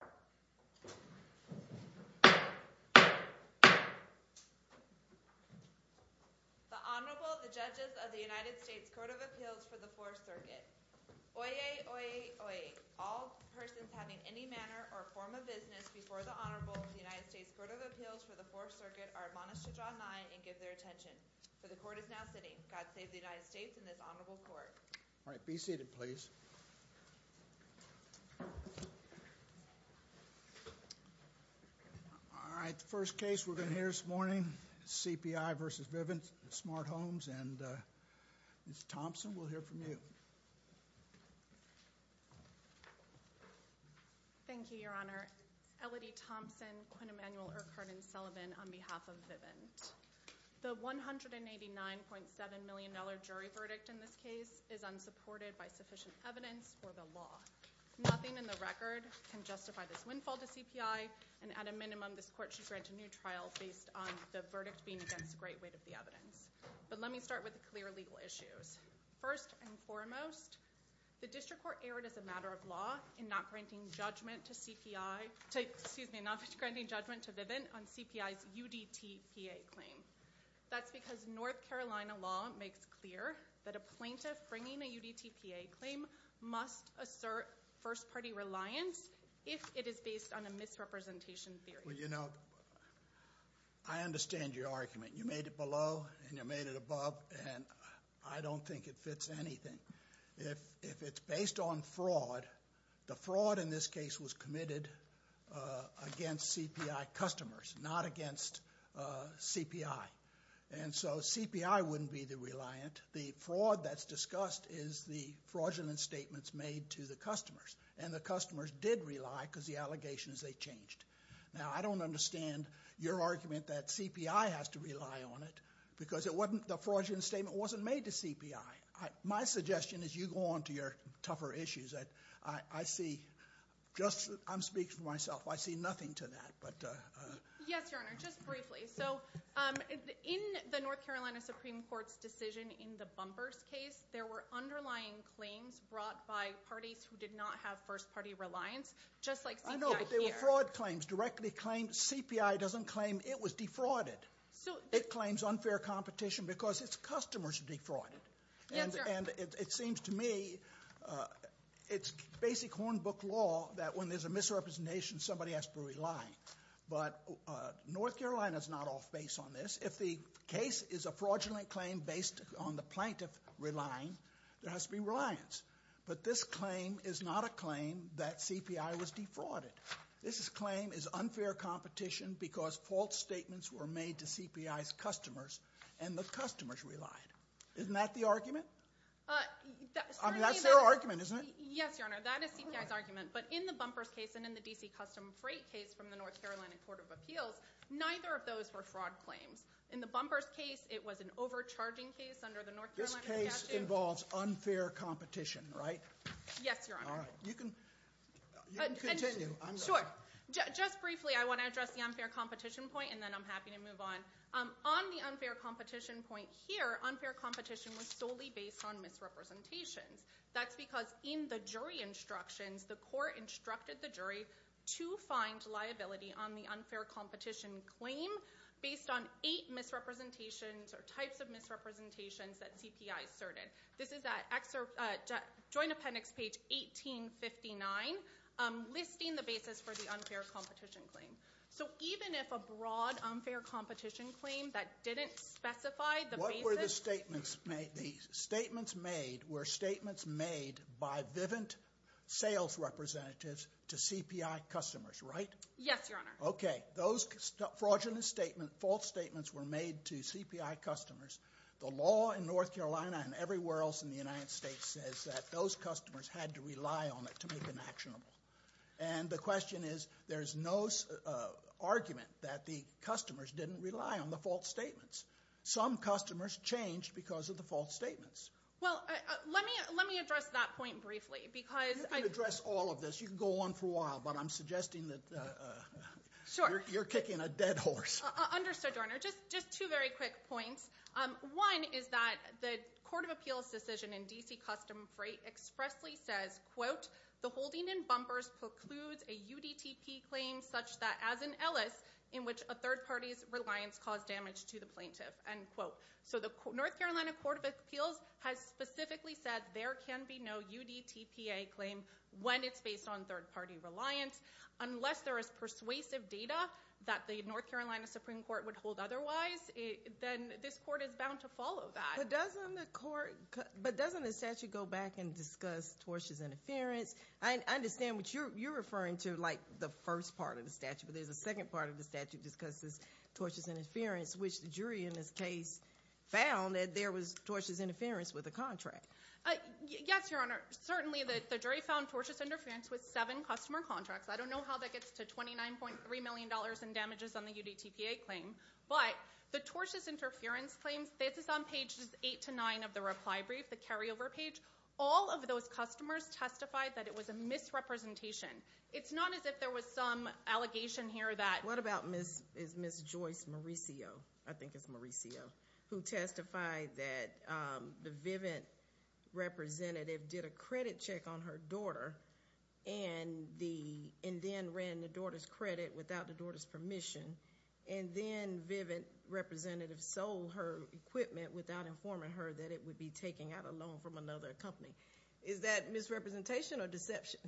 The Honorable, the Judges of the United States Court of Appeals for the Fourth Circuit. All persons having any manner or form of business before the Honorable of the United States Court of Appeals for the Fourth Circuit are admonished to draw nine and give their attention. For the Court is now sitting. God save the United States and this Honorable Court. All right. Be seated, please. All right. The first case we're going to hear this morning, CPI v. Vivint Smart Homes, and Ms. Thompson, we'll hear from you. Thank you, Your Honor. Elodie Thompson, Quinn Emanuel, Urquhart, and Sullivan, on behalf of Vivint. The $189.7 million jury verdict in this case is unsupported by sufficient evidence. Nothing in the record can justify this windfall to CPI, and at a minimum, this Court should grant a new trial based on the verdict being against the great weight of the evidence. But let me start with the clear legal issues. First and foremost, the District Court erred as a matter of law in not granting judgment to CPI, excuse me, not granting judgment to Vivint on CPI's UDTPA claim. That's because North Carolina law makes clear that a plaintiff bringing a UDTPA claim must assert first-party reliance if it is based on a misrepresentation theory. Well, you know, I understand your argument. You made it below and you made it above, and I don't think it fits anything. If it's based on fraud, the fraud in this case was committed against CPI customers, not against CPI, and so CPI wouldn't be the reliant. The fraud that's discussed is the fraudulent statements made to the customers, and the customers did rely because the allegations they changed. Now, I don't understand your argument that CPI has to rely on it because the fraudulent statement wasn't made to CPI. My suggestion is you go on to your tougher issues. I see just, I'm speaking for myself, I see nothing to that. Yes, Your Honor, just briefly. So in the North Carolina Supreme Court's decision in the bumpers case, there were underlying claims brought by parties who did not have first-party reliance, just like CPI here. I know, but they were fraud claims, directly claimed. CPI doesn't claim it was defrauded. It claims unfair competition because its customers defrauded. Yes, Your Honor. And it seems to me it's basic hornbook law that when there's a misrepresentation, somebody has to rely. But North Carolina's not off base on this. If the case is a fraudulent claim based on the plaintiff relying, there has to be reliance. But this claim is not a claim that CPI was defrauded. This claim is unfair competition because false statements were made to CPI's customers, and the customers relied. Isn't that the argument? That's their argument, isn't it? Yes, Your Honor, that is CPI's argument. But in the bumpers case and in the DC Custom Freight case from the North Carolina Court of Appeals, neither of those were fraud claims. In the bumpers case, it was an overcharging case under the North Carolina statute. This case involves unfair competition, right? Yes, Your Honor. All right. You can continue. Sure. Just briefly, I want to address the unfair competition point, and then I'm happy to move on. On the unfair competition point here, unfair competition was solely based on misrepresentations. That's because in the jury instructions, the court instructed the jury to find liability on the unfair competition claim based on eight misrepresentations or types of misrepresentations that CPI asserted. This is at Joint Appendix page 1859, listing the basis for the unfair competition claim. So even if a broad unfair competition claim that didn't specify the basis— What were the statements made? The statements made were statements made by Vivint sales representatives to CPI customers, right? Yes, Your Honor. Okay. Those fraudulent false statements were made to CPI customers. The law in North Carolina and everywhere else in the United States says that those customers had to rely on it to make it actionable. And the question is, there's no argument that the customers didn't rely on the false statements. Some customers changed because of the false statements. Well, let me address that point briefly because— You can address all of this. You can go on for a while, but I'm suggesting that you're kicking a dead horse. Understood, Your Honor. Just two very quick points. One is that the Court of Appeals decision in D.C. Customs and Freight expressly says, the holding in bumpers precludes a UDTP claim such that, as in Ellis, in which a third party's reliance caused damage to the plaintiff. End quote. So the North Carolina Court of Appeals has specifically said there can be no UDTPA claim when it's based on third party reliance, unless there is persuasive data that the North Carolina Supreme Court would hold otherwise. Then this court is bound to follow that. But doesn't the statute go back and discuss tortious interference? I understand what you're referring to, like the first part of the statute, but there's a second part of the statute that discusses tortious interference, which the jury in this case found that there was tortious interference with the contract. Yes, Your Honor. Certainly, the jury found tortious interference with seven customer contracts. I don't know how that gets to $29.3 million in damages on the UDTPA claim. But the tortious interference claims, this is on pages eight to nine of the reply brief, the carryover page. All of those customers testified that it was a misrepresentation. It's not as if there was some allegation here that- What about Ms. Joyce Mauricio, I think it's Mauricio, who testified that the Vivint representative did a credit check on her daughter and then ran the daughter's credit without the daughter's permission and then Vivint representative sold her equipment without informing her that it would be taken out of loan from another company. Is that misrepresentation or deception?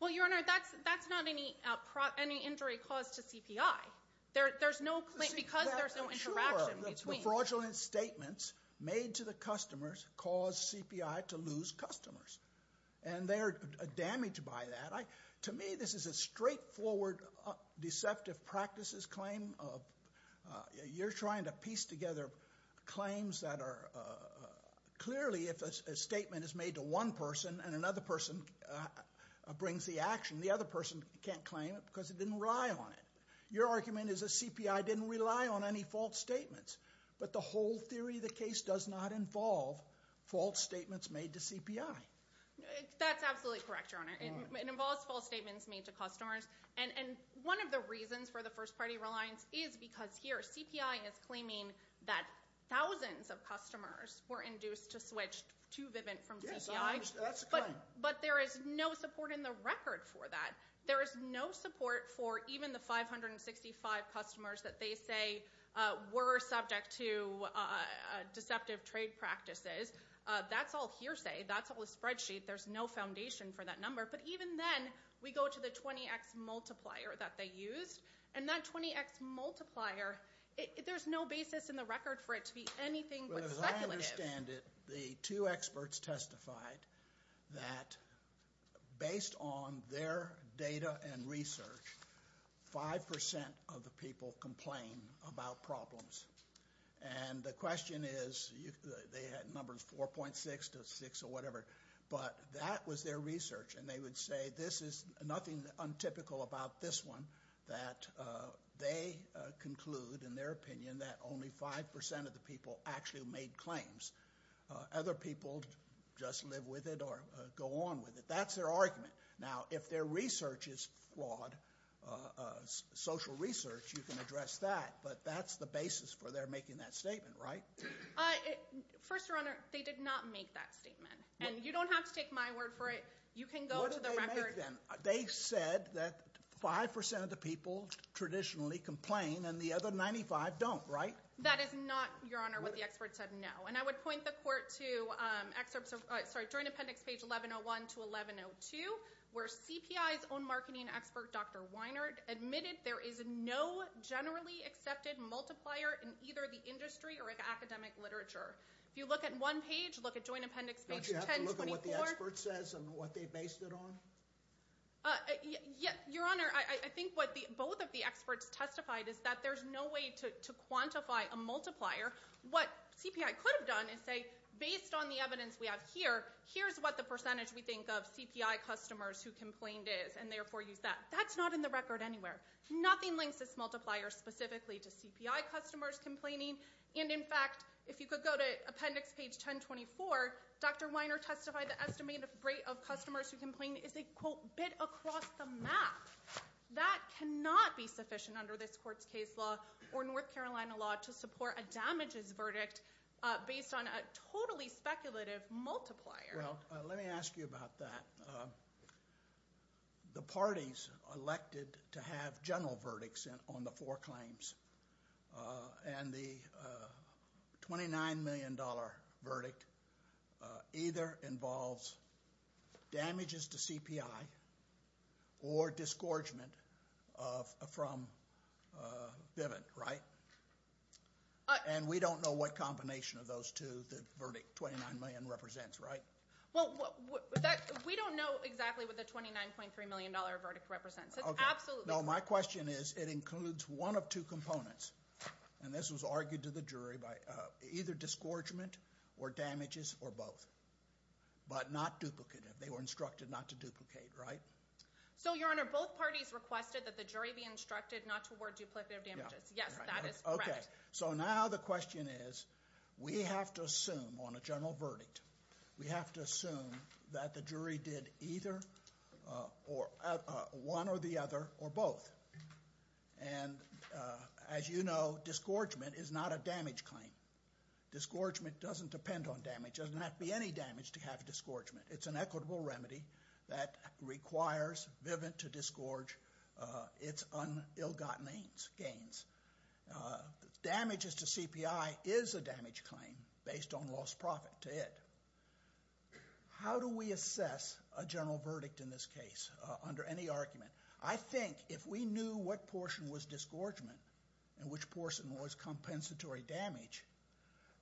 Well, Your Honor, that's not any injury caused to CPI. Because there's no interaction between- Sure, the fraudulent statements made to the customers caused CPI to lose customers. And they're damaged by that. To me, this is a straightforward deceptive practices claim. You're trying to piece together claims that are- Clearly, if a statement is made to one person and another person brings the action, the other person can't claim it because they didn't rely on it. Your argument is the CPI didn't rely on any false statements. But the whole theory of the case does not involve false statements made to CPI. That's absolutely correct, Your Honor. It involves false statements made to customers. And one of the reasons for the first-party reliance is because here, CPI is claiming that thousands of customers were induced to switch to Vivint from CPI. But there is no support in the record for that. There is no support for even the 565 customers that they say were subject to deceptive trade practices. That's all hearsay. That's all a spreadsheet. There's no foundation for that number. But even then, we go to the 20X multiplier that they used. And that 20X multiplier, there's no basis in the record for it to be anything but speculative. Well, as I understand it, the two experts testified that based on their data and research, 5% of the people complain about problems. And the question is, they had numbers 4.6 to 6 or whatever. But that was their research, and they would say, this is nothing untypical about this one, that they conclude, in their opinion, that only 5% of the people actually made claims. Other people just live with it or go on with it. That's their argument. Now, if their research is flawed, social research, you can address that. But that's the basis for their making that statement, right? First, Your Honor, they did not make that statement. And you don't have to take my word for it. You can go to the record. What did they make then? They said that 5% of the people traditionally complain, and the other 95 don't, right? That is not, Your Honor, what the experts said, no. And I would point the court to Joint Appendix page 1101 to 1102, where CPI's own marketing expert, Dr. Weinert, admitted there is no generally accepted multiplier in either the industry or academic literature. If you look at one page, look at Joint Appendix page 1024. Don't you have to look at what the expert says and what they based it on? Your Honor, I think what both of the experts testified is that there's no way to quantify a multiplier. What CPI could have done is say, based on the evidence we have here, here's what the percentage we think of CPI customers who complained is, and therefore use that. That's not in the record anywhere. Nothing links this multiplier specifically to CPI customers complaining. And, in fact, if you could go to Appendix page 1024, Dr. Weinert testified the estimated rate of customers who complained is a, quote, bit across the map. That cannot be sufficient under this court's case law or North Carolina law to support a damages verdict based on a totally speculative multiplier. Well, let me ask you about that. The parties elected to have general verdicts on the four claims and the $29 million verdict either involves damages to CPI or disgorgement from Biven, right? And we don't know what combination of those two the verdict, $29 million, represents, right? Well, we don't know exactly what the $29.3 million verdict represents. Okay. Absolutely. No, my question is, it includes one of two components, and this was argued to the jury by either disgorgement or damages or both, but not duplicative. They were instructed not to duplicate, right? So, Your Honor, both parties requested that the jury be instructed not to award duplicative damages. Yes, that is correct. So now the question is, we have to assume on a general verdict, we have to assume that the jury did either one or the other or both. And as you know, disgorgement is not a damage claim. Disgorgement doesn't depend on damage. It doesn't have to be any damage to have disgorgement. It's an equitable remedy that requires Biven to disgorge its ill-gotten gains. Damages to CPI is a damage claim based on lost profit to it. How do we assess a general verdict in this case under any argument? I think if we knew what portion was disgorgement and which portion was compensatory damage,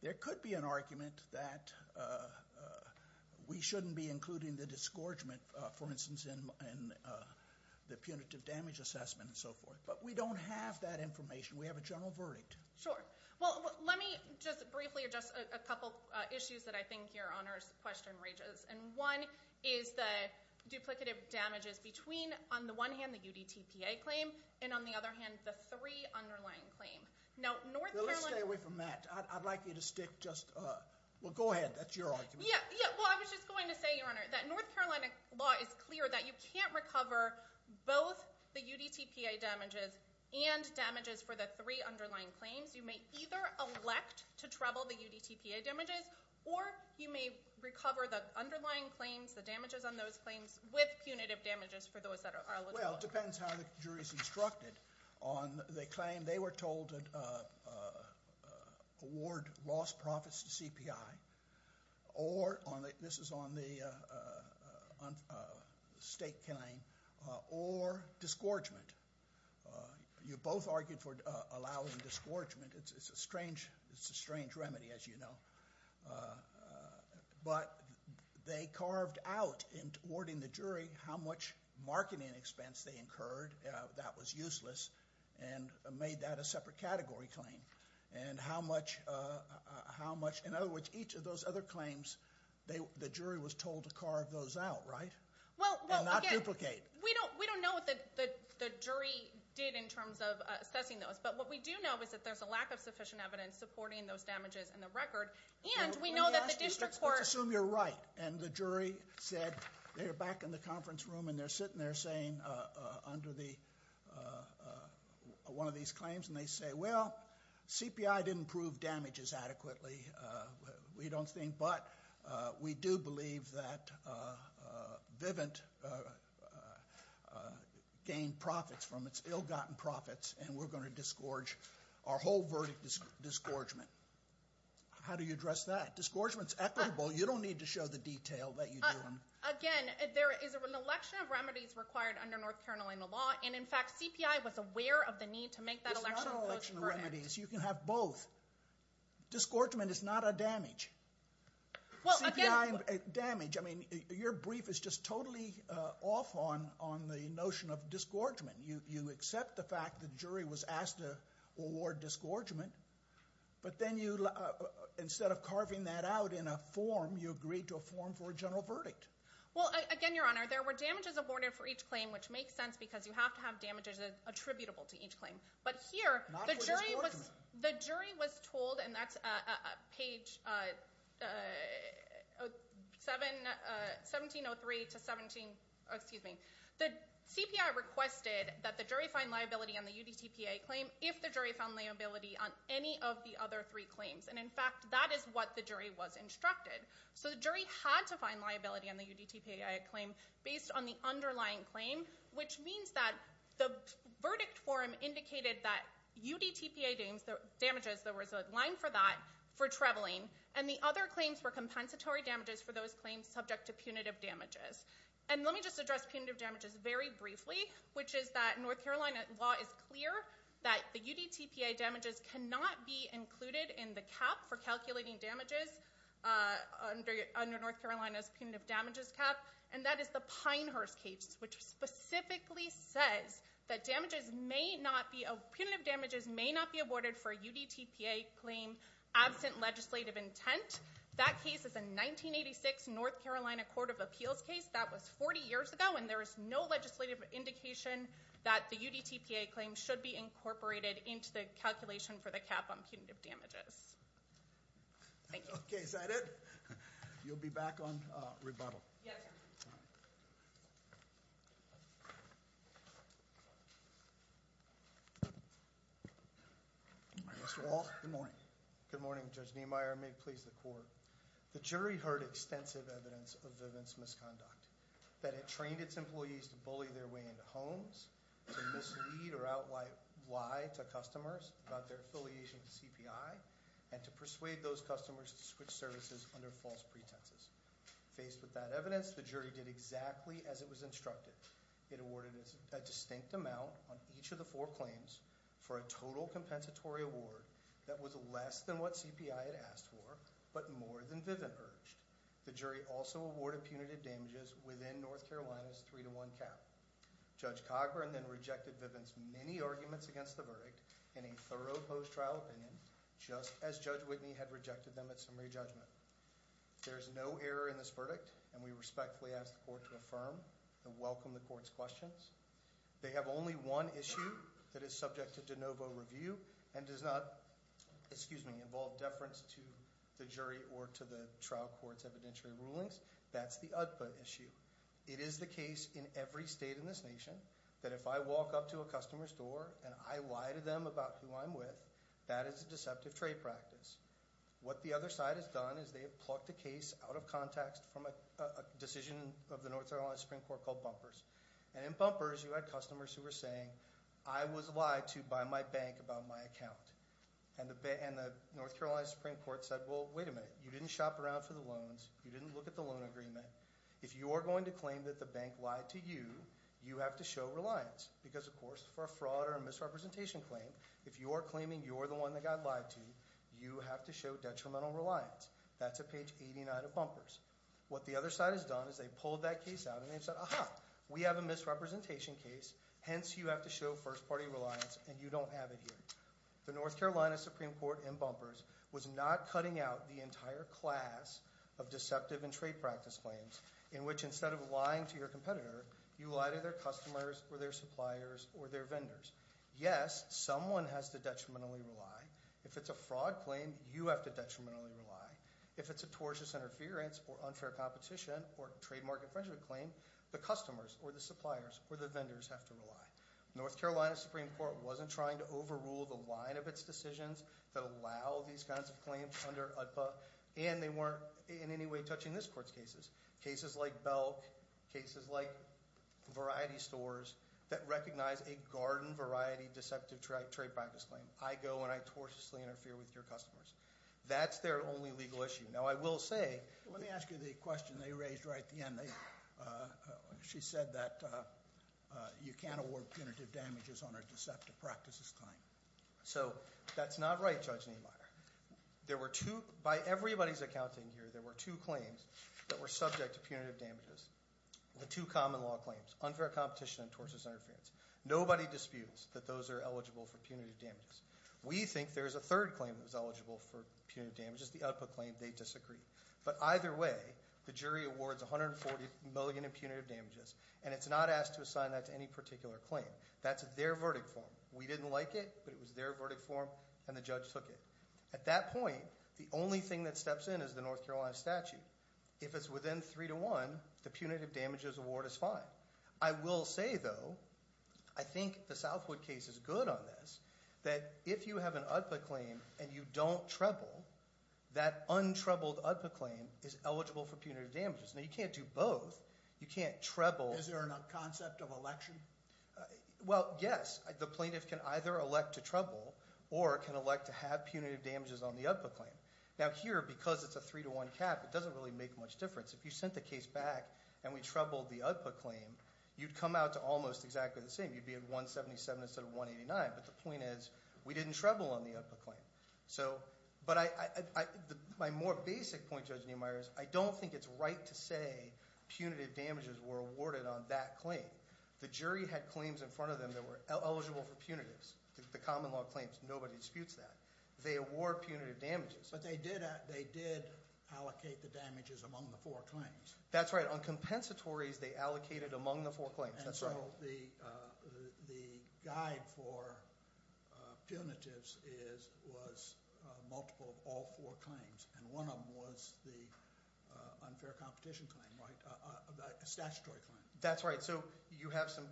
there could be an argument that we shouldn't be including the disgorgement, for instance, in the punitive damage assessment and so forth. But we don't have that information. We have a general verdict. Sure. Well, let me just briefly address a couple issues that I think Your Honor's question raises. And one is the duplicative damages between, on the one hand, the UDTPA claim and, on the other hand, the three underlying claims. Now, North Carolina... Well, let's stay away from that. I'd like you to stick just... Well, go ahead. That's your argument. Yeah, well, I was just going to say, Your Honor, that North Carolina law is clear that you can't recover both the UDTPA damages and damages for the three underlying claims. You may either elect to treble the UDTPA damages or you may recover the underlying claims, the damages on those claims, with punitive damages for those that are eligible. Well, it depends how the jury's instructed on the claim. They were told to award lost profits to CPI or, this is on the state claim, or disgorgement. You both argued for allowing disgorgement. It's a strange remedy, as you know. But they carved out, in awarding the jury, how much marketing expense they incurred that was useless and made that a separate category claim. And how much... In other words, each of those other claims, the jury was told to carve those out, right? Well, again... And not duplicate. We don't know what the jury did in terms of assessing those, but what we do know is that there's a lack of sufficient evidence supporting those damages in the record, and we know that the district court... Let's assume you're right, and the jury said they're back in the conference room and they're sitting there saying, under one of these claims, and they say, well, CPI didn't prove damages adequately. We don't think... But we do believe that Vivint gained profits from its ill-gotten profits, and we're going to disgorge our whole verdict disgorgement. How do you address that? Disgorgement's equitable. You don't need to show the detail that you do. Again, there is an election of remedies required under North Carolina law, and, in fact, CPI was aware of the need to make that election... It's not an election of remedies. You can have both. Disgorgement is not a damage. CPI damage. I mean, your brief is just totally off on the notion of disgorgement. You accept the fact the jury was asked to award disgorgement, but then instead of carving that out in a form, you agreed to a form for a general verdict. Well, again, Your Honor, there were damages awarded for each claim, which makes sense because you have to have damages attributable to each claim. But here, the jury was told, and that's page 1703 to 17... Excuse me. The CPI requested that the jury find liability on the UDTPA claim if the jury found liability on any of the other three claims, and, in fact, that is what the jury was instructed. So the jury had to find liability on the UDTPA claim based on the underlying claim, which means that the verdict form indicated that UDTPA damages, there was a line for that, for traveling, and the other claims were compensatory damages for those claims subject to punitive damages. And let me just address punitive damages very briefly, which is that North Carolina law is clear that the UDTPA damages cannot be included in the cap for calculating damages under North Carolina's punitive damages cap, and that is the Pinehurst case, which specifically says that punitive damages may not be awarded for a UDTPA claim absent legislative intent. That case is a 1986 North Carolina Court of Appeals case. That was 40 years ago, and there is no legislative indication that the UDTPA claim should be incorporated into the calculation for the cap on punitive damages. Thank you. Okay, is that it? You'll be back on rebuttal. Yes, Your Honor. Mr. Walsh, good morning. Good morning, Judge Niemeyer. May it please the Court. The jury heard extensive evidence of Vivint's misconduct, that it trained its employees to bully their way into homes, to mislead or out-lie to customers about their affiliation to CPI, and to persuade those customers to switch services under false pretenses. Faced with that evidence, the jury did exactly as it was instructed. It awarded a distinct amount on each of the four claims for a total compensatory award that was less than what CPI had asked for, but more than Vivint urged. The jury also awarded punitive damages within North Carolina's 3-1 cap. Judge Cogburn then rejected Vivint's many arguments against the verdict in a thorough post-trial opinion, just as Judge Whitney had rejected them at summary judgment. There is no error in this verdict, and we respectfully ask the Court to affirm and welcome the Court's questions. They have only one issue that is subject to de novo review and does not involve deference to the jury or to the trial court's evidentiary rulings. That's the UDPUT issue. It is the case in every state in this nation that if I walk up to a customer's door and I lie to them about who I'm with, that is a deceptive trade practice. What the other side has done is they have plucked a case out of context from a decision of the North Carolina Supreme Court called Bumpers. And in Bumpers, you had customers who were saying, I was lied to by my bank about my account. And the North Carolina Supreme Court said, well, wait a minute. You didn't shop around for the loans. You didn't look at the loan agreement. If you are going to claim that the bank lied to you, you have to show reliance because, of course, for a fraud or a misrepresentation claim, if you are claiming you're the one that got lied to, you have to show detrimental reliance. That's at page 89 of Bumpers. What the other side has done is they've pulled that case out, and they've said, aha, we have a misrepresentation case, hence you have to show first-party reliance, and you don't have it here. The North Carolina Supreme Court in Bumpers was not cutting out the entire class of deceptive and trade practice claims in which instead of lying to your competitor, you lie to their customers or their suppliers or their vendors. Yes, someone has to detrimentally rely. If it's a fraud claim, you have to detrimentally rely. If it's a tortious interference or unfair competition or trademark infringement claim, the customers or the suppliers or the vendors have to rely. North Carolina Supreme Court wasn't trying to overrule the line of its decisions that allow these kinds of claims under UDPA, and they weren't in any way touching this court's cases, cases like Belk, cases like Variety Stores that recognize a garden variety deceptive trade practice claim. I go and I tortiously interfere with your customers. That's their only legal issue. Now I will say, let me ask you the question they raised right at the end. She said that you can't award punitive damages on a deceptive practices claim. So that's not right, Judge Niemeyer. By everybody's accounting here, there were two claims that were subject to punitive damages, the two common law claims, unfair competition and tortious interference. Nobody disputes that those are eligible for punitive damages. We think there's a third claim that was eligible for punitive damages, the UDPA claim, they disagree. But either way, the jury awards $140 million in punitive damages, and it's not asked to assign that to any particular claim. That's their verdict form. We didn't like it, but it was their verdict form, and the judge took it. At that point, the only thing that steps in is the North Carolina statute. If it's within three to one, the punitive damages award is fine. I will say, though, I think the Southwood case is good on this, that if you have an UDPA claim and you don't treble, that untroubled UDPA claim is eligible for punitive damages. Now, you can't do both. You can't treble. Is there a concept of election? Well, yes. The plaintiff can either elect to treble or can elect to have punitive damages on the UDPA claim. Now here, because it's a three to one cap, it doesn't really make much difference. If you sent the case back and we trebled the UDPA claim, you'd come out to almost exactly the same. You'd be at $177 instead of $189. But the point is we didn't treble on the UDPA claim. But my more basic point, Judge Niemeyer, is I don't think it's right to say punitive damages were awarded on that claim. The jury had claims in front of them that were eligible for punitives. The common law claims, nobody disputes that. They award punitive damages. But they did allocate the damages among the four claims. That's right. On compensatories, they allocated among the four claims. That's right. So the guide for punitives was multiple of all four claims, and one of them was the unfair competition claim, a statutory claim. That's right. So you have some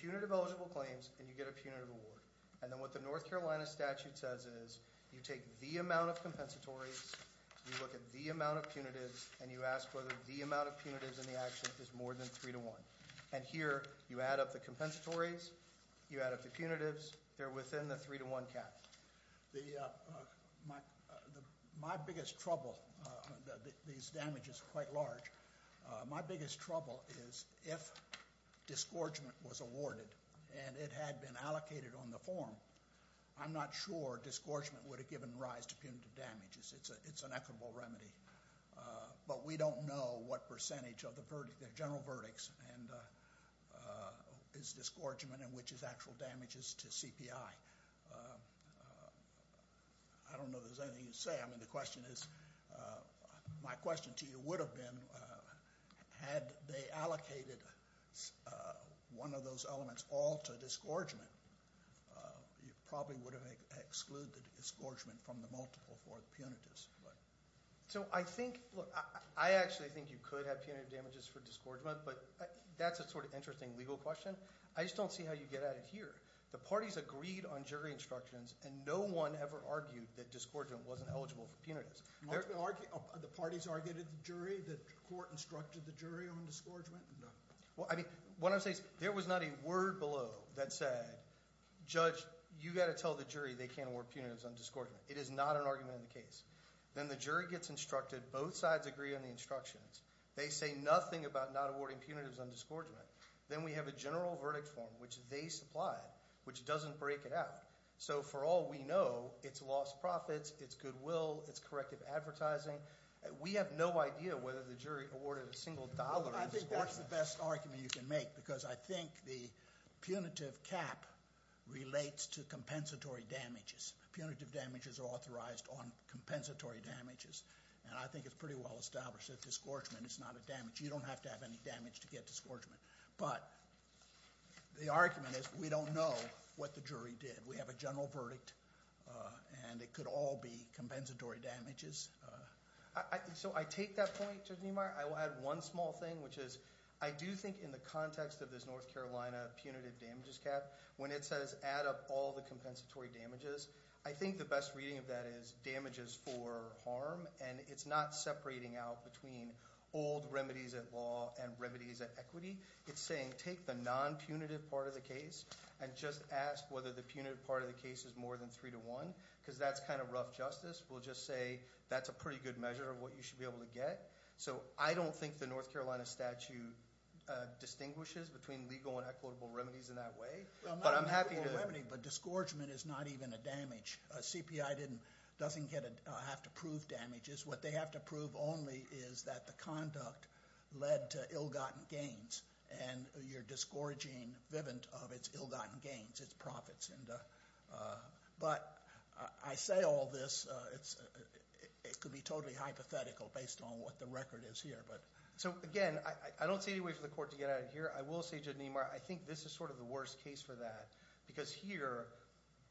punitive eligible claims and you get a punitive award. And then what the North Carolina statute says is you take the amount of compensatories, you look at the amount of punitives, and you ask whether the amount of punitives in the action is more than 3 to 1. And here you add up the compensatories, you add up the punitives. They're within the 3 to 1 cap. My biggest trouble, these damages are quite large, my biggest trouble is if disgorgement was awarded and it had been allocated on the form, I'm not sure disgorgement would have given rise to punitive damages. It's an equitable remedy. But we don't know what percentage of the general verdicts is disgorgement and which is actual damages to CPI. I don't know if there's anything to say. I mean the question is, my question to you would have been, had they allocated one of those elements all to disgorgement, you probably would have excluded disgorgement from the multiple for the punitives. So I think, I actually think you could have punitive damages for disgorgement, but that's a sort of interesting legal question. I just don't see how you get at it here. The parties agreed on jury instructions and no one ever argued that disgorgement wasn't eligible for punitives. The parties argued at the jury? The court instructed the jury on disgorgement? What I'm saying is there was not a word below that said, Judge, you've got to tell the jury they can't award punitives on disgorgement. It is not an argument in the case. Then the jury gets instructed. Both sides agree on the instructions. They say nothing about not awarding punitives on disgorgement. Then we have a general verdict form, which they supplied, which doesn't break it out. So for all we know, it's lost profits, it's goodwill, it's corrective advertising. We have no idea whether the jury awarded a single dollar on disgorgement. I think that's the best argument you can make because I think the punitive cap relates to compensatory damages. Punitive damages are authorized on compensatory damages, and I think it's pretty well established that disgorgement is not a damage. You don't have to have any damage to get disgorgement. But the argument is we don't know what the jury did. We have a general verdict, and it could all be compensatory damages. So I take that point, Judge Niemeyer. I will add one small thing, which is I do think in the context of this North Carolina punitive damages cap, when it says add up all the compensatory damages, I think the best reading of that is damages for harm, and it's not separating out between old remedies at law and remedies at equity. It's saying take the non-punitive part of the case and just ask whether the punitive part of the case is more than 3 to 1 because that's kind of rough justice. We'll just say that's a pretty good measure of what you should be able to get. So I don't think the North Carolina statute distinguishes between legal and equitable remedies in that way. But I'm happy to— Well, not an equitable remedy, but disgorgement is not even a damage. A CPI doesn't have to prove damages. What they have to prove only is that the conduct led to ill-gotten gains, and you're disgorging Vivint of its ill-gotten gains, its profits. But I say all this. It could be totally hypothetical based on what the record is here. So, again, I don't see any way for the court to get out of here. I will say, Judd Nemeyer, I think this is sort of the worst case for that because here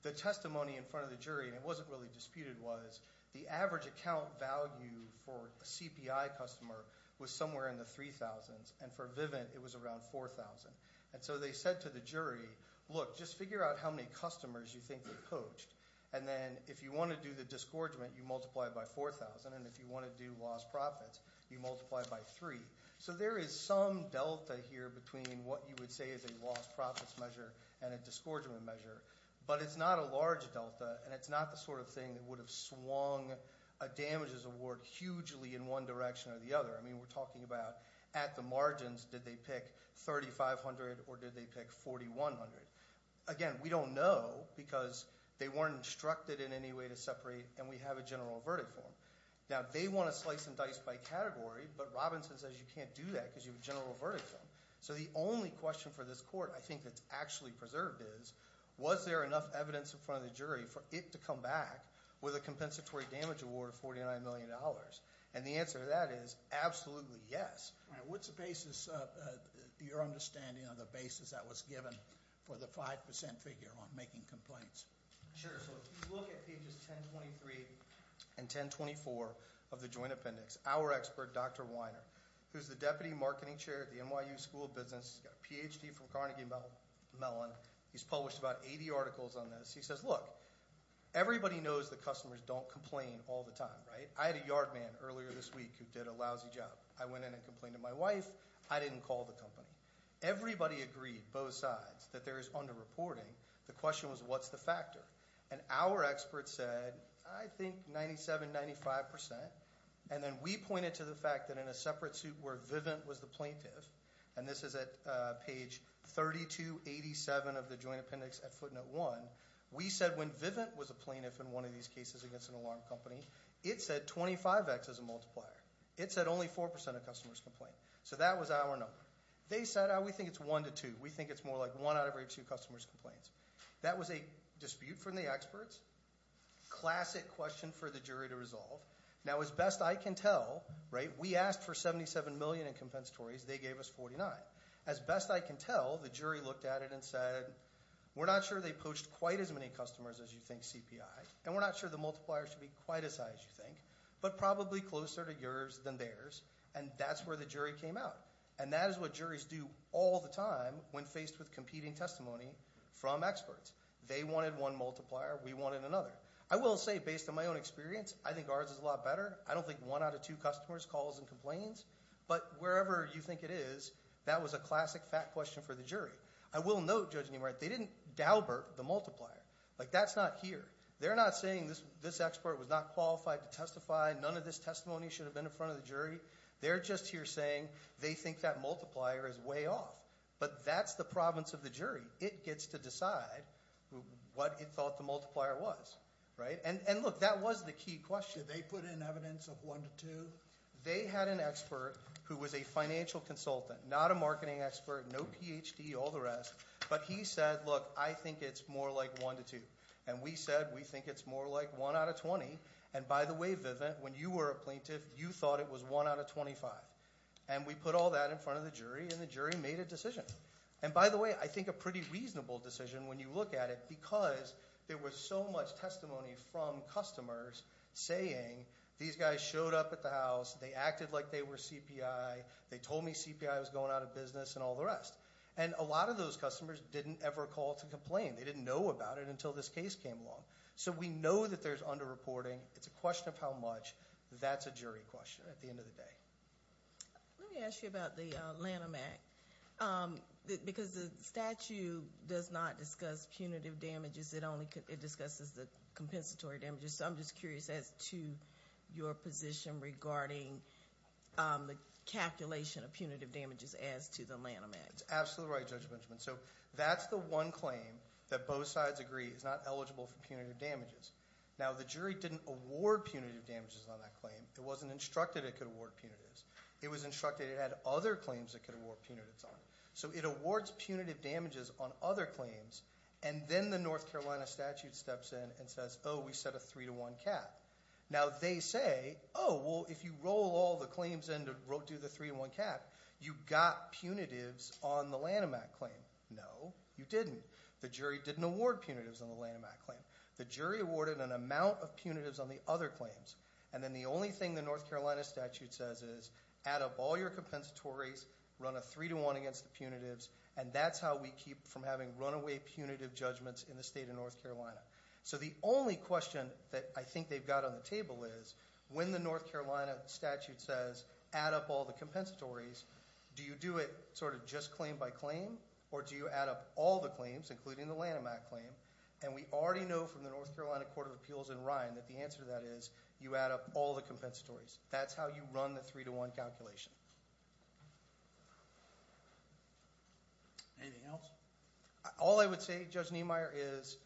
the testimony in front of the jury, and it wasn't really disputed, was the average account value for a CPI customer was somewhere in the 3,000s, and for Vivint it was around 4,000. And so they said to the jury, look, just figure out how many customers you think they poached. And then if you want to do the disgorgement, you multiply it by 4,000, and if you want to do lost profits, you multiply it by 3. So there is some delta here between what you would say is a lost profits measure and a disgorgement measure. But it's not a large delta, and it's not the sort of thing that would have swung a damages award hugely in one direction or the other. I mean, we're talking about at the margins, did they pick 3,500 or did they pick 4,100? Again, we don't know because they weren't instructed in any way to separate, and we have a general verdict form. Now, they want to slice and dice by category, but Robinson says you can't do that because you have a general verdict form. So the only question for this court I think that's actually preserved is, was there enough evidence in front of the jury for it to come back with a compensatory damage award of $49 million? And the answer to that is absolutely yes. What's the basis, your understanding of the basis that was given for the 5% figure on making complaints? Sure. So if you look at pages 1023 and 1024 of the Joint Appendix, our expert, Dr. Weiner, who's the deputy marketing chair at the NYU School of Business, he's got a Ph.D. from Carnegie Mellon, he's published about 80 articles on this. He says, look, everybody knows that customers don't complain all the time, right? I had a yard man earlier this week who did a lousy job. I went in and complained to my wife. I didn't call the company. Everybody agreed, both sides, that there is underreporting. The question was, what's the factor? And our expert said, I think 97%, 95%. And then we pointed to the fact that in a separate suit where Vivint was the plaintiff, and this is at page 3287 of the Joint Appendix at footnote 1, we said when Vivint was a plaintiff in one of these cases against an alarm company, it said 25X as a multiplier. It said only 4% of customers complained. So that was our number. They said, we think it's 1 to 2. We think it's more like 1 out of every 2 customers complains. That was a dispute from the experts, classic question for the jury to resolve. Now, as best I can tell, right, we asked for $77 million in compensatories. They gave us $49. As best I can tell, the jury looked at it and said, we're not sure they poached quite as many customers as you think CPI, and we're not sure the multiplier should be quite as high as you think, but probably closer to yours than theirs. And that's where the jury came out. And that is what juries do all the time when faced with competing testimony from experts. They wanted one multiplier. We wanted another. I will say, based on my own experience, I think ours is a lot better. I don't think 1 out of 2 customers calls and complains. But wherever you think it is, that was a classic fact question for the jury. I will note, Judge Niemeyer, they didn't daubert the multiplier. Like, that's not here. They're not saying this expert was not qualified to testify. None of this testimony should have been in front of the jury. They're just here saying they think that multiplier is way off. But that's the province of the jury. It gets to decide what it thought the multiplier was, right? And, look, that was the key question. Did they put in evidence of 1 to 2? They had an expert who was a financial consultant, not a marketing expert, no Ph.D., all the rest. But he said, look, I think it's more like 1 to 2. And we said we think it's more like 1 out of 20. And, by the way, Vivint, when you were a plaintiff, you thought it was 1 out of 25. And we put all that in front of the jury, and the jury made a decision. And, by the way, I think a pretty reasonable decision when you look at it because there was so much testimony from customers saying these guys showed up at the house, they acted like they were CPI, they told me CPI was going out of business, and all the rest. And a lot of those customers didn't ever call to complain. They didn't know about it until this case came along. So we know that there's underreporting. It's a question of how much. That's a jury question at the end of the day. Let me ask you about the Lanham Act because the statute does not discuss punitive damages. It only discusses the compensatory damages. So I'm just curious as to your position regarding the calculation of punitive damages as to the Lanham Act. That's absolutely right, Judge Benjamin. So that's the one claim that both sides agree is not eligible for punitive damages. Now, the jury didn't award punitive damages on that claim. It wasn't instructed it could award punitives. It was instructed it had other claims it could award punitives on. So it awards punitive damages on other claims, and then the North Carolina statute steps in and says, oh, we set a three-to-one cap. Now they say, oh, well, if you roll all the claims into the three-to-one cap, you got punitives on the Lanham Act claim. No, you didn't. The jury didn't award punitives on the Lanham Act claim. The jury awarded an amount of punitives on the other claims, and then the only thing the North Carolina statute says is add up all your compensatories, run a three-to-one against the punitives, and that's how we keep from having runaway punitive judgments in the state of North Carolina. So the only question that I think they've got on the table is when the North Carolina statute says add up all the compensatories, do you do it sort of just claim by claim, or do you add up all the claims, including the Lanham Act claim? And we already know from the North Carolina Court of Appeals in Ryan that the answer to that is you add up all the compensatories. That's how you run the three-to-one calculation. Anything else? All I would say, Judge Niemeyer, is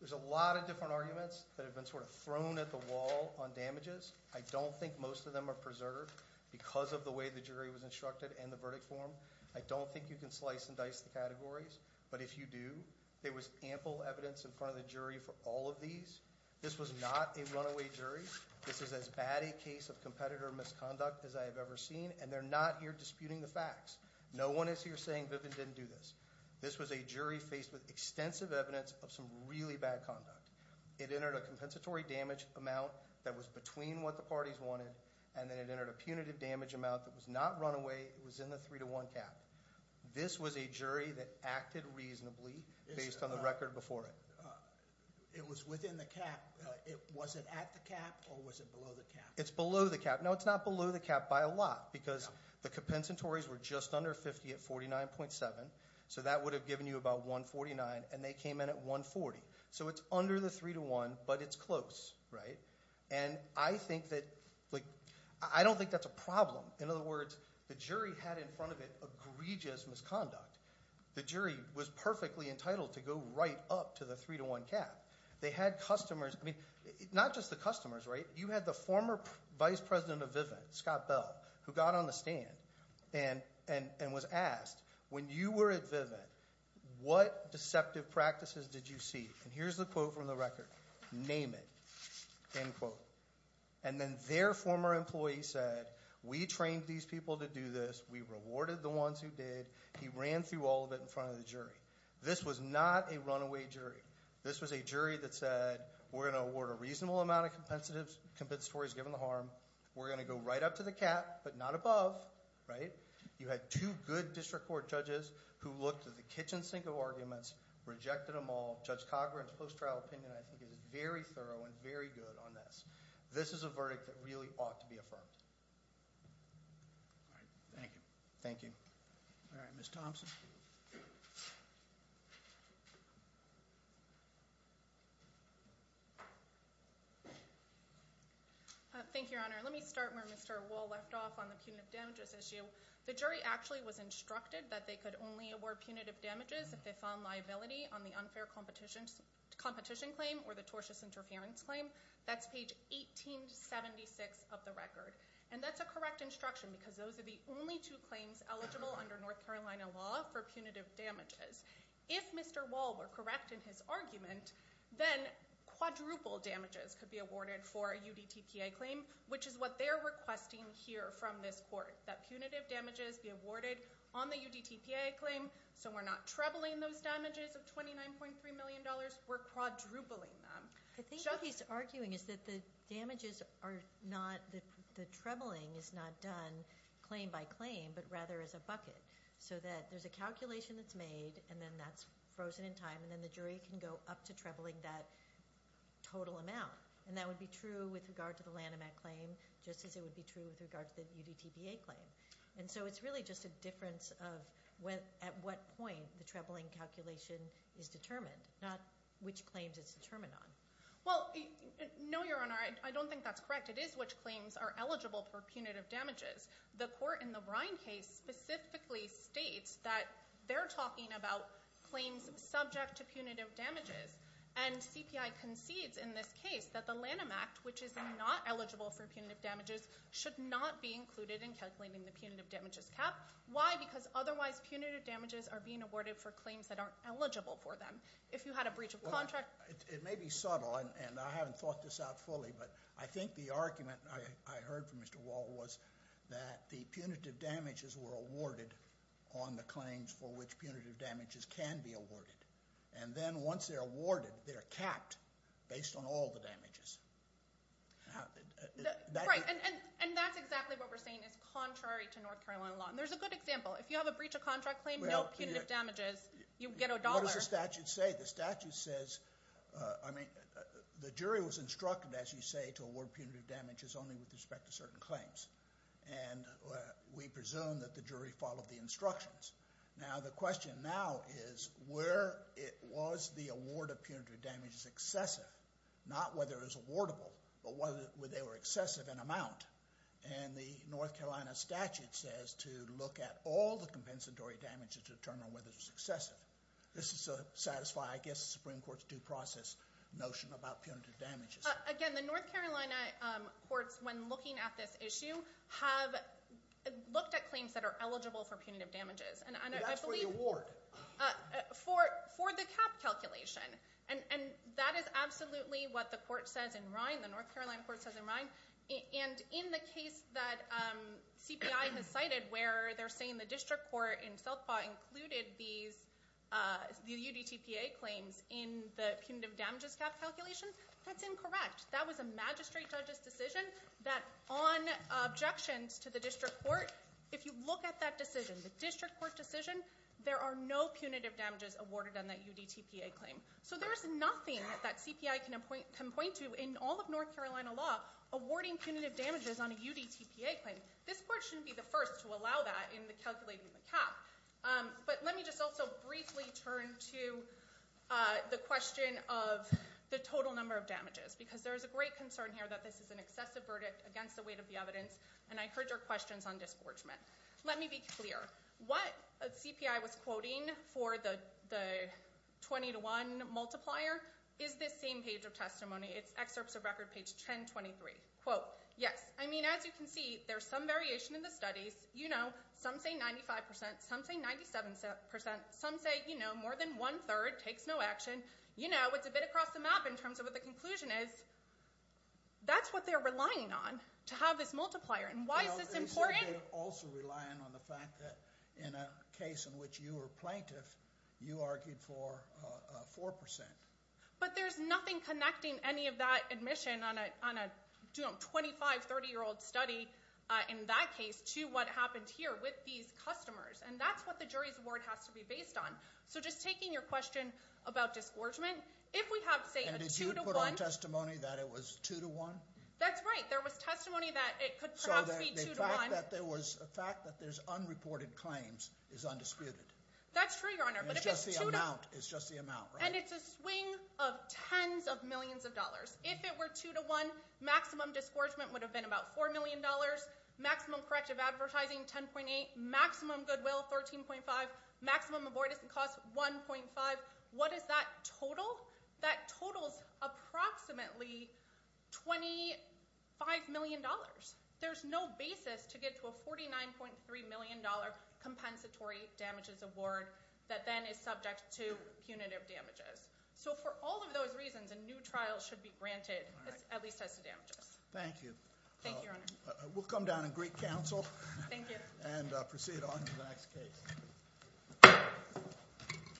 there's a lot of different arguments that have been sort of thrown at the wall on damages. I don't think most of them are preserved because of the way the jury was instructed and the verdict form. I don't think you can slice and dice the categories, but if you do, there was ample evidence in front of the jury for all of these. This was not a runaway jury. This is as bad a case of competitor misconduct as I have ever seen, and they're not here disputing the facts. No one is here saying Vivian didn't do this. This was a jury faced with extensive evidence of some really bad conduct. It entered a compensatory damage amount that was between what the parties wanted, and then it entered a punitive damage amount that was not runaway. It was in the three-to-one cap. This was a jury that acted reasonably based on the record before it. It was within the cap. Was it at the cap or was it below the cap? It's below the cap. No, it's not below the cap by a lot because the compensatories were just under 50 at 49.7, so that would have given you about 149, and they came in at 140. So it's under the three-to-one, but it's close, right? And I think that, like, I don't think that's a problem. In other words, the jury had in front of it egregious misconduct. The jury was perfectly entitled to go right up to the three-to-one cap. They had customers. I mean, not just the customers, right? You had the former vice president of Vivian, Scott Bell, who got on the stand and was asked, when you were at Vivian, what deceptive practices did you see? And here's the quote from the record. Name it, end quote. And then their former employee said, we trained these people to do this. We rewarded the ones who did. He ran through all of it in front of the jury. This was not a runaway jury. This was a jury that said, we're going to award a reasonable amount of compensatories given the harm. We're going to go right up to the cap, but not above, right? You had two good district court judges who looked at the kitchen sink of arguments, rejected them all. Judge Coghran's post-trial opinion, I think, is very thorough and very good on this. This is a verdict that really ought to be affirmed. Thank you. Thank you. All right, Ms. Thompson. Thank you, Your Honor. Let me start where Mr. Wall left off on the punitive damages issue. The jury actually was instructed that they could only award punitive damages if they found liability on the unfair competition claim or the tortious interference claim. That's page 1876 of the record. And that's a correct instruction because those are the only two claims eligible under North Carolina law for punitive damages. If Mr. Wall were correct in his argument, then quadruple damages could be awarded for a UDTPA claim, which is what they're requesting here from this court, that punitive damages be awarded on the UDTPA claim so we're not trebling those damages of $29.3 million. We're quadrupling them. I think what he's arguing is that the damages are not – the trebling is not done claim by claim, but rather as a bucket, so that there's a calculation that's made, and then that's frozen in time, and then the jury can go up to trebling that total amount. And that would be true with regard to the Lanham Act claim just as it would be true with regard to the UDTPA claim. And so it's really just a difference of at what point the trebling calculation is determined, not which claims it's determined on. Well, no, Your Honor, I don't think that's correct. It is which claims are eligible for punitive damages. The court in the Ryan case specifically states that they're talking about claims subject to punitive damages, and CPI concedes in this case that the Lanham Act, which is not eligible for punitive damages, should not be included in calculating the punitive damages cap. Why? Because otherwise punitive damages are being awarded for claims that aren't eligible for them. If you had a breach of contract – Well, it may be subtle, and I haven't thought this out fully, but I think the argument I heard from Mr. Wall was that the punitive damages were awarded on the claims for which punitive damages can be awarded. And then once they're awarded, they're capped based on all the damages. Right, and that's exactly what we're saying is contrary to North Carolina law. And there's a good example. If you have a breach of contract claim, no punitive damages. You get a dollar. What does the statute say? The statute says – I mean, the jury was instructed, as you say, to award punitive damages only with respect to certain claims. And we presume that the jury followed the instructions. Now, the question now is where was the award of punitive damages excessive? Not whether it was awardable, but whether they were excessive in amount. And the North Carolina statute says to look at all the compensatory damages to determine whether it was excessive. This is to satisfy, I guess, the Supreme Court's due process notion about punitive damages. Again, the North Carolina courts, when looking at this issue, have looked at claims that are eligible for punitive damages. That's for the award. For the cap calculation. And that is absolutely what the court says in Rhine, the North Carolina court says in Rhine. And in the case that CPI has cited where they're saying the district court in Southpaw included the UDTPA claims in the punitive damages cap calculation, that's incorrect. That was a magistrate judge's decision that on objections to the district court, if you look at that decision, the district court decision, there are no punitive damages awarded on that UDTPA claim. So there's nothing that CPI can point to in all of North Carolina law awarding punitive damages on a UDTPA claim. This court shouldn't be the first to allow that in calculating the cap. But let me just also briefly turn to the question of the total number of damages. Because there is a great concern here that this is an excessive verdict against the weight of the evidence. And I heard your questions on disgorgement. Let me be clear. What CPI was quoting for the 20 to 1 multiplier is this same page of testimony. It's excerpts of record page 1023. Quote, yes. I mean, as you can see, there's some variation in the studies. You know, some say 95%. Some say 97%. Some say, you know, more than one-third. Takes no action. You know, it's a bit across the map in terms of what the conclusion is. That's what they're relying on to have this multiplier. And why is this important? They're also relying on the fact that in a case in which you were plaintiff, you argued for 4%. But there's nothing connecting any of that admission on a, you know, 25, 30-year-old study in that case to what happened here with these customers. And that's what the jury's award has to be based on. So just taking your question about disgorgement, if we have, say, a 2 to 1. And did you put on testimony that it was 2 to 1? That's right. There was testimony that it could perhaps be 2 to 1. So the fact that there's unreported claims is undisputed. That's true, Your Honor. It's just the amount, right? And it's a swing of tens of millions of dollars. If it were 2 to 1, maximum disgorgement would have been about $4 million. Maximum corrective advertising, 10.8. Maximum goodwill, 13.5. Maximum avoidance of costs, 1.5. What does that total? That totals approximately $25 million. There's no basis to get to a $49.3 million compensatory damages award that then is subject to punitive damages. So for all of those reasons, a new trial should be granted, at least as damages. Thank you. Thank you, Your Honor. We'll come down and greet counsel. Thank you. And proceed on to the next case.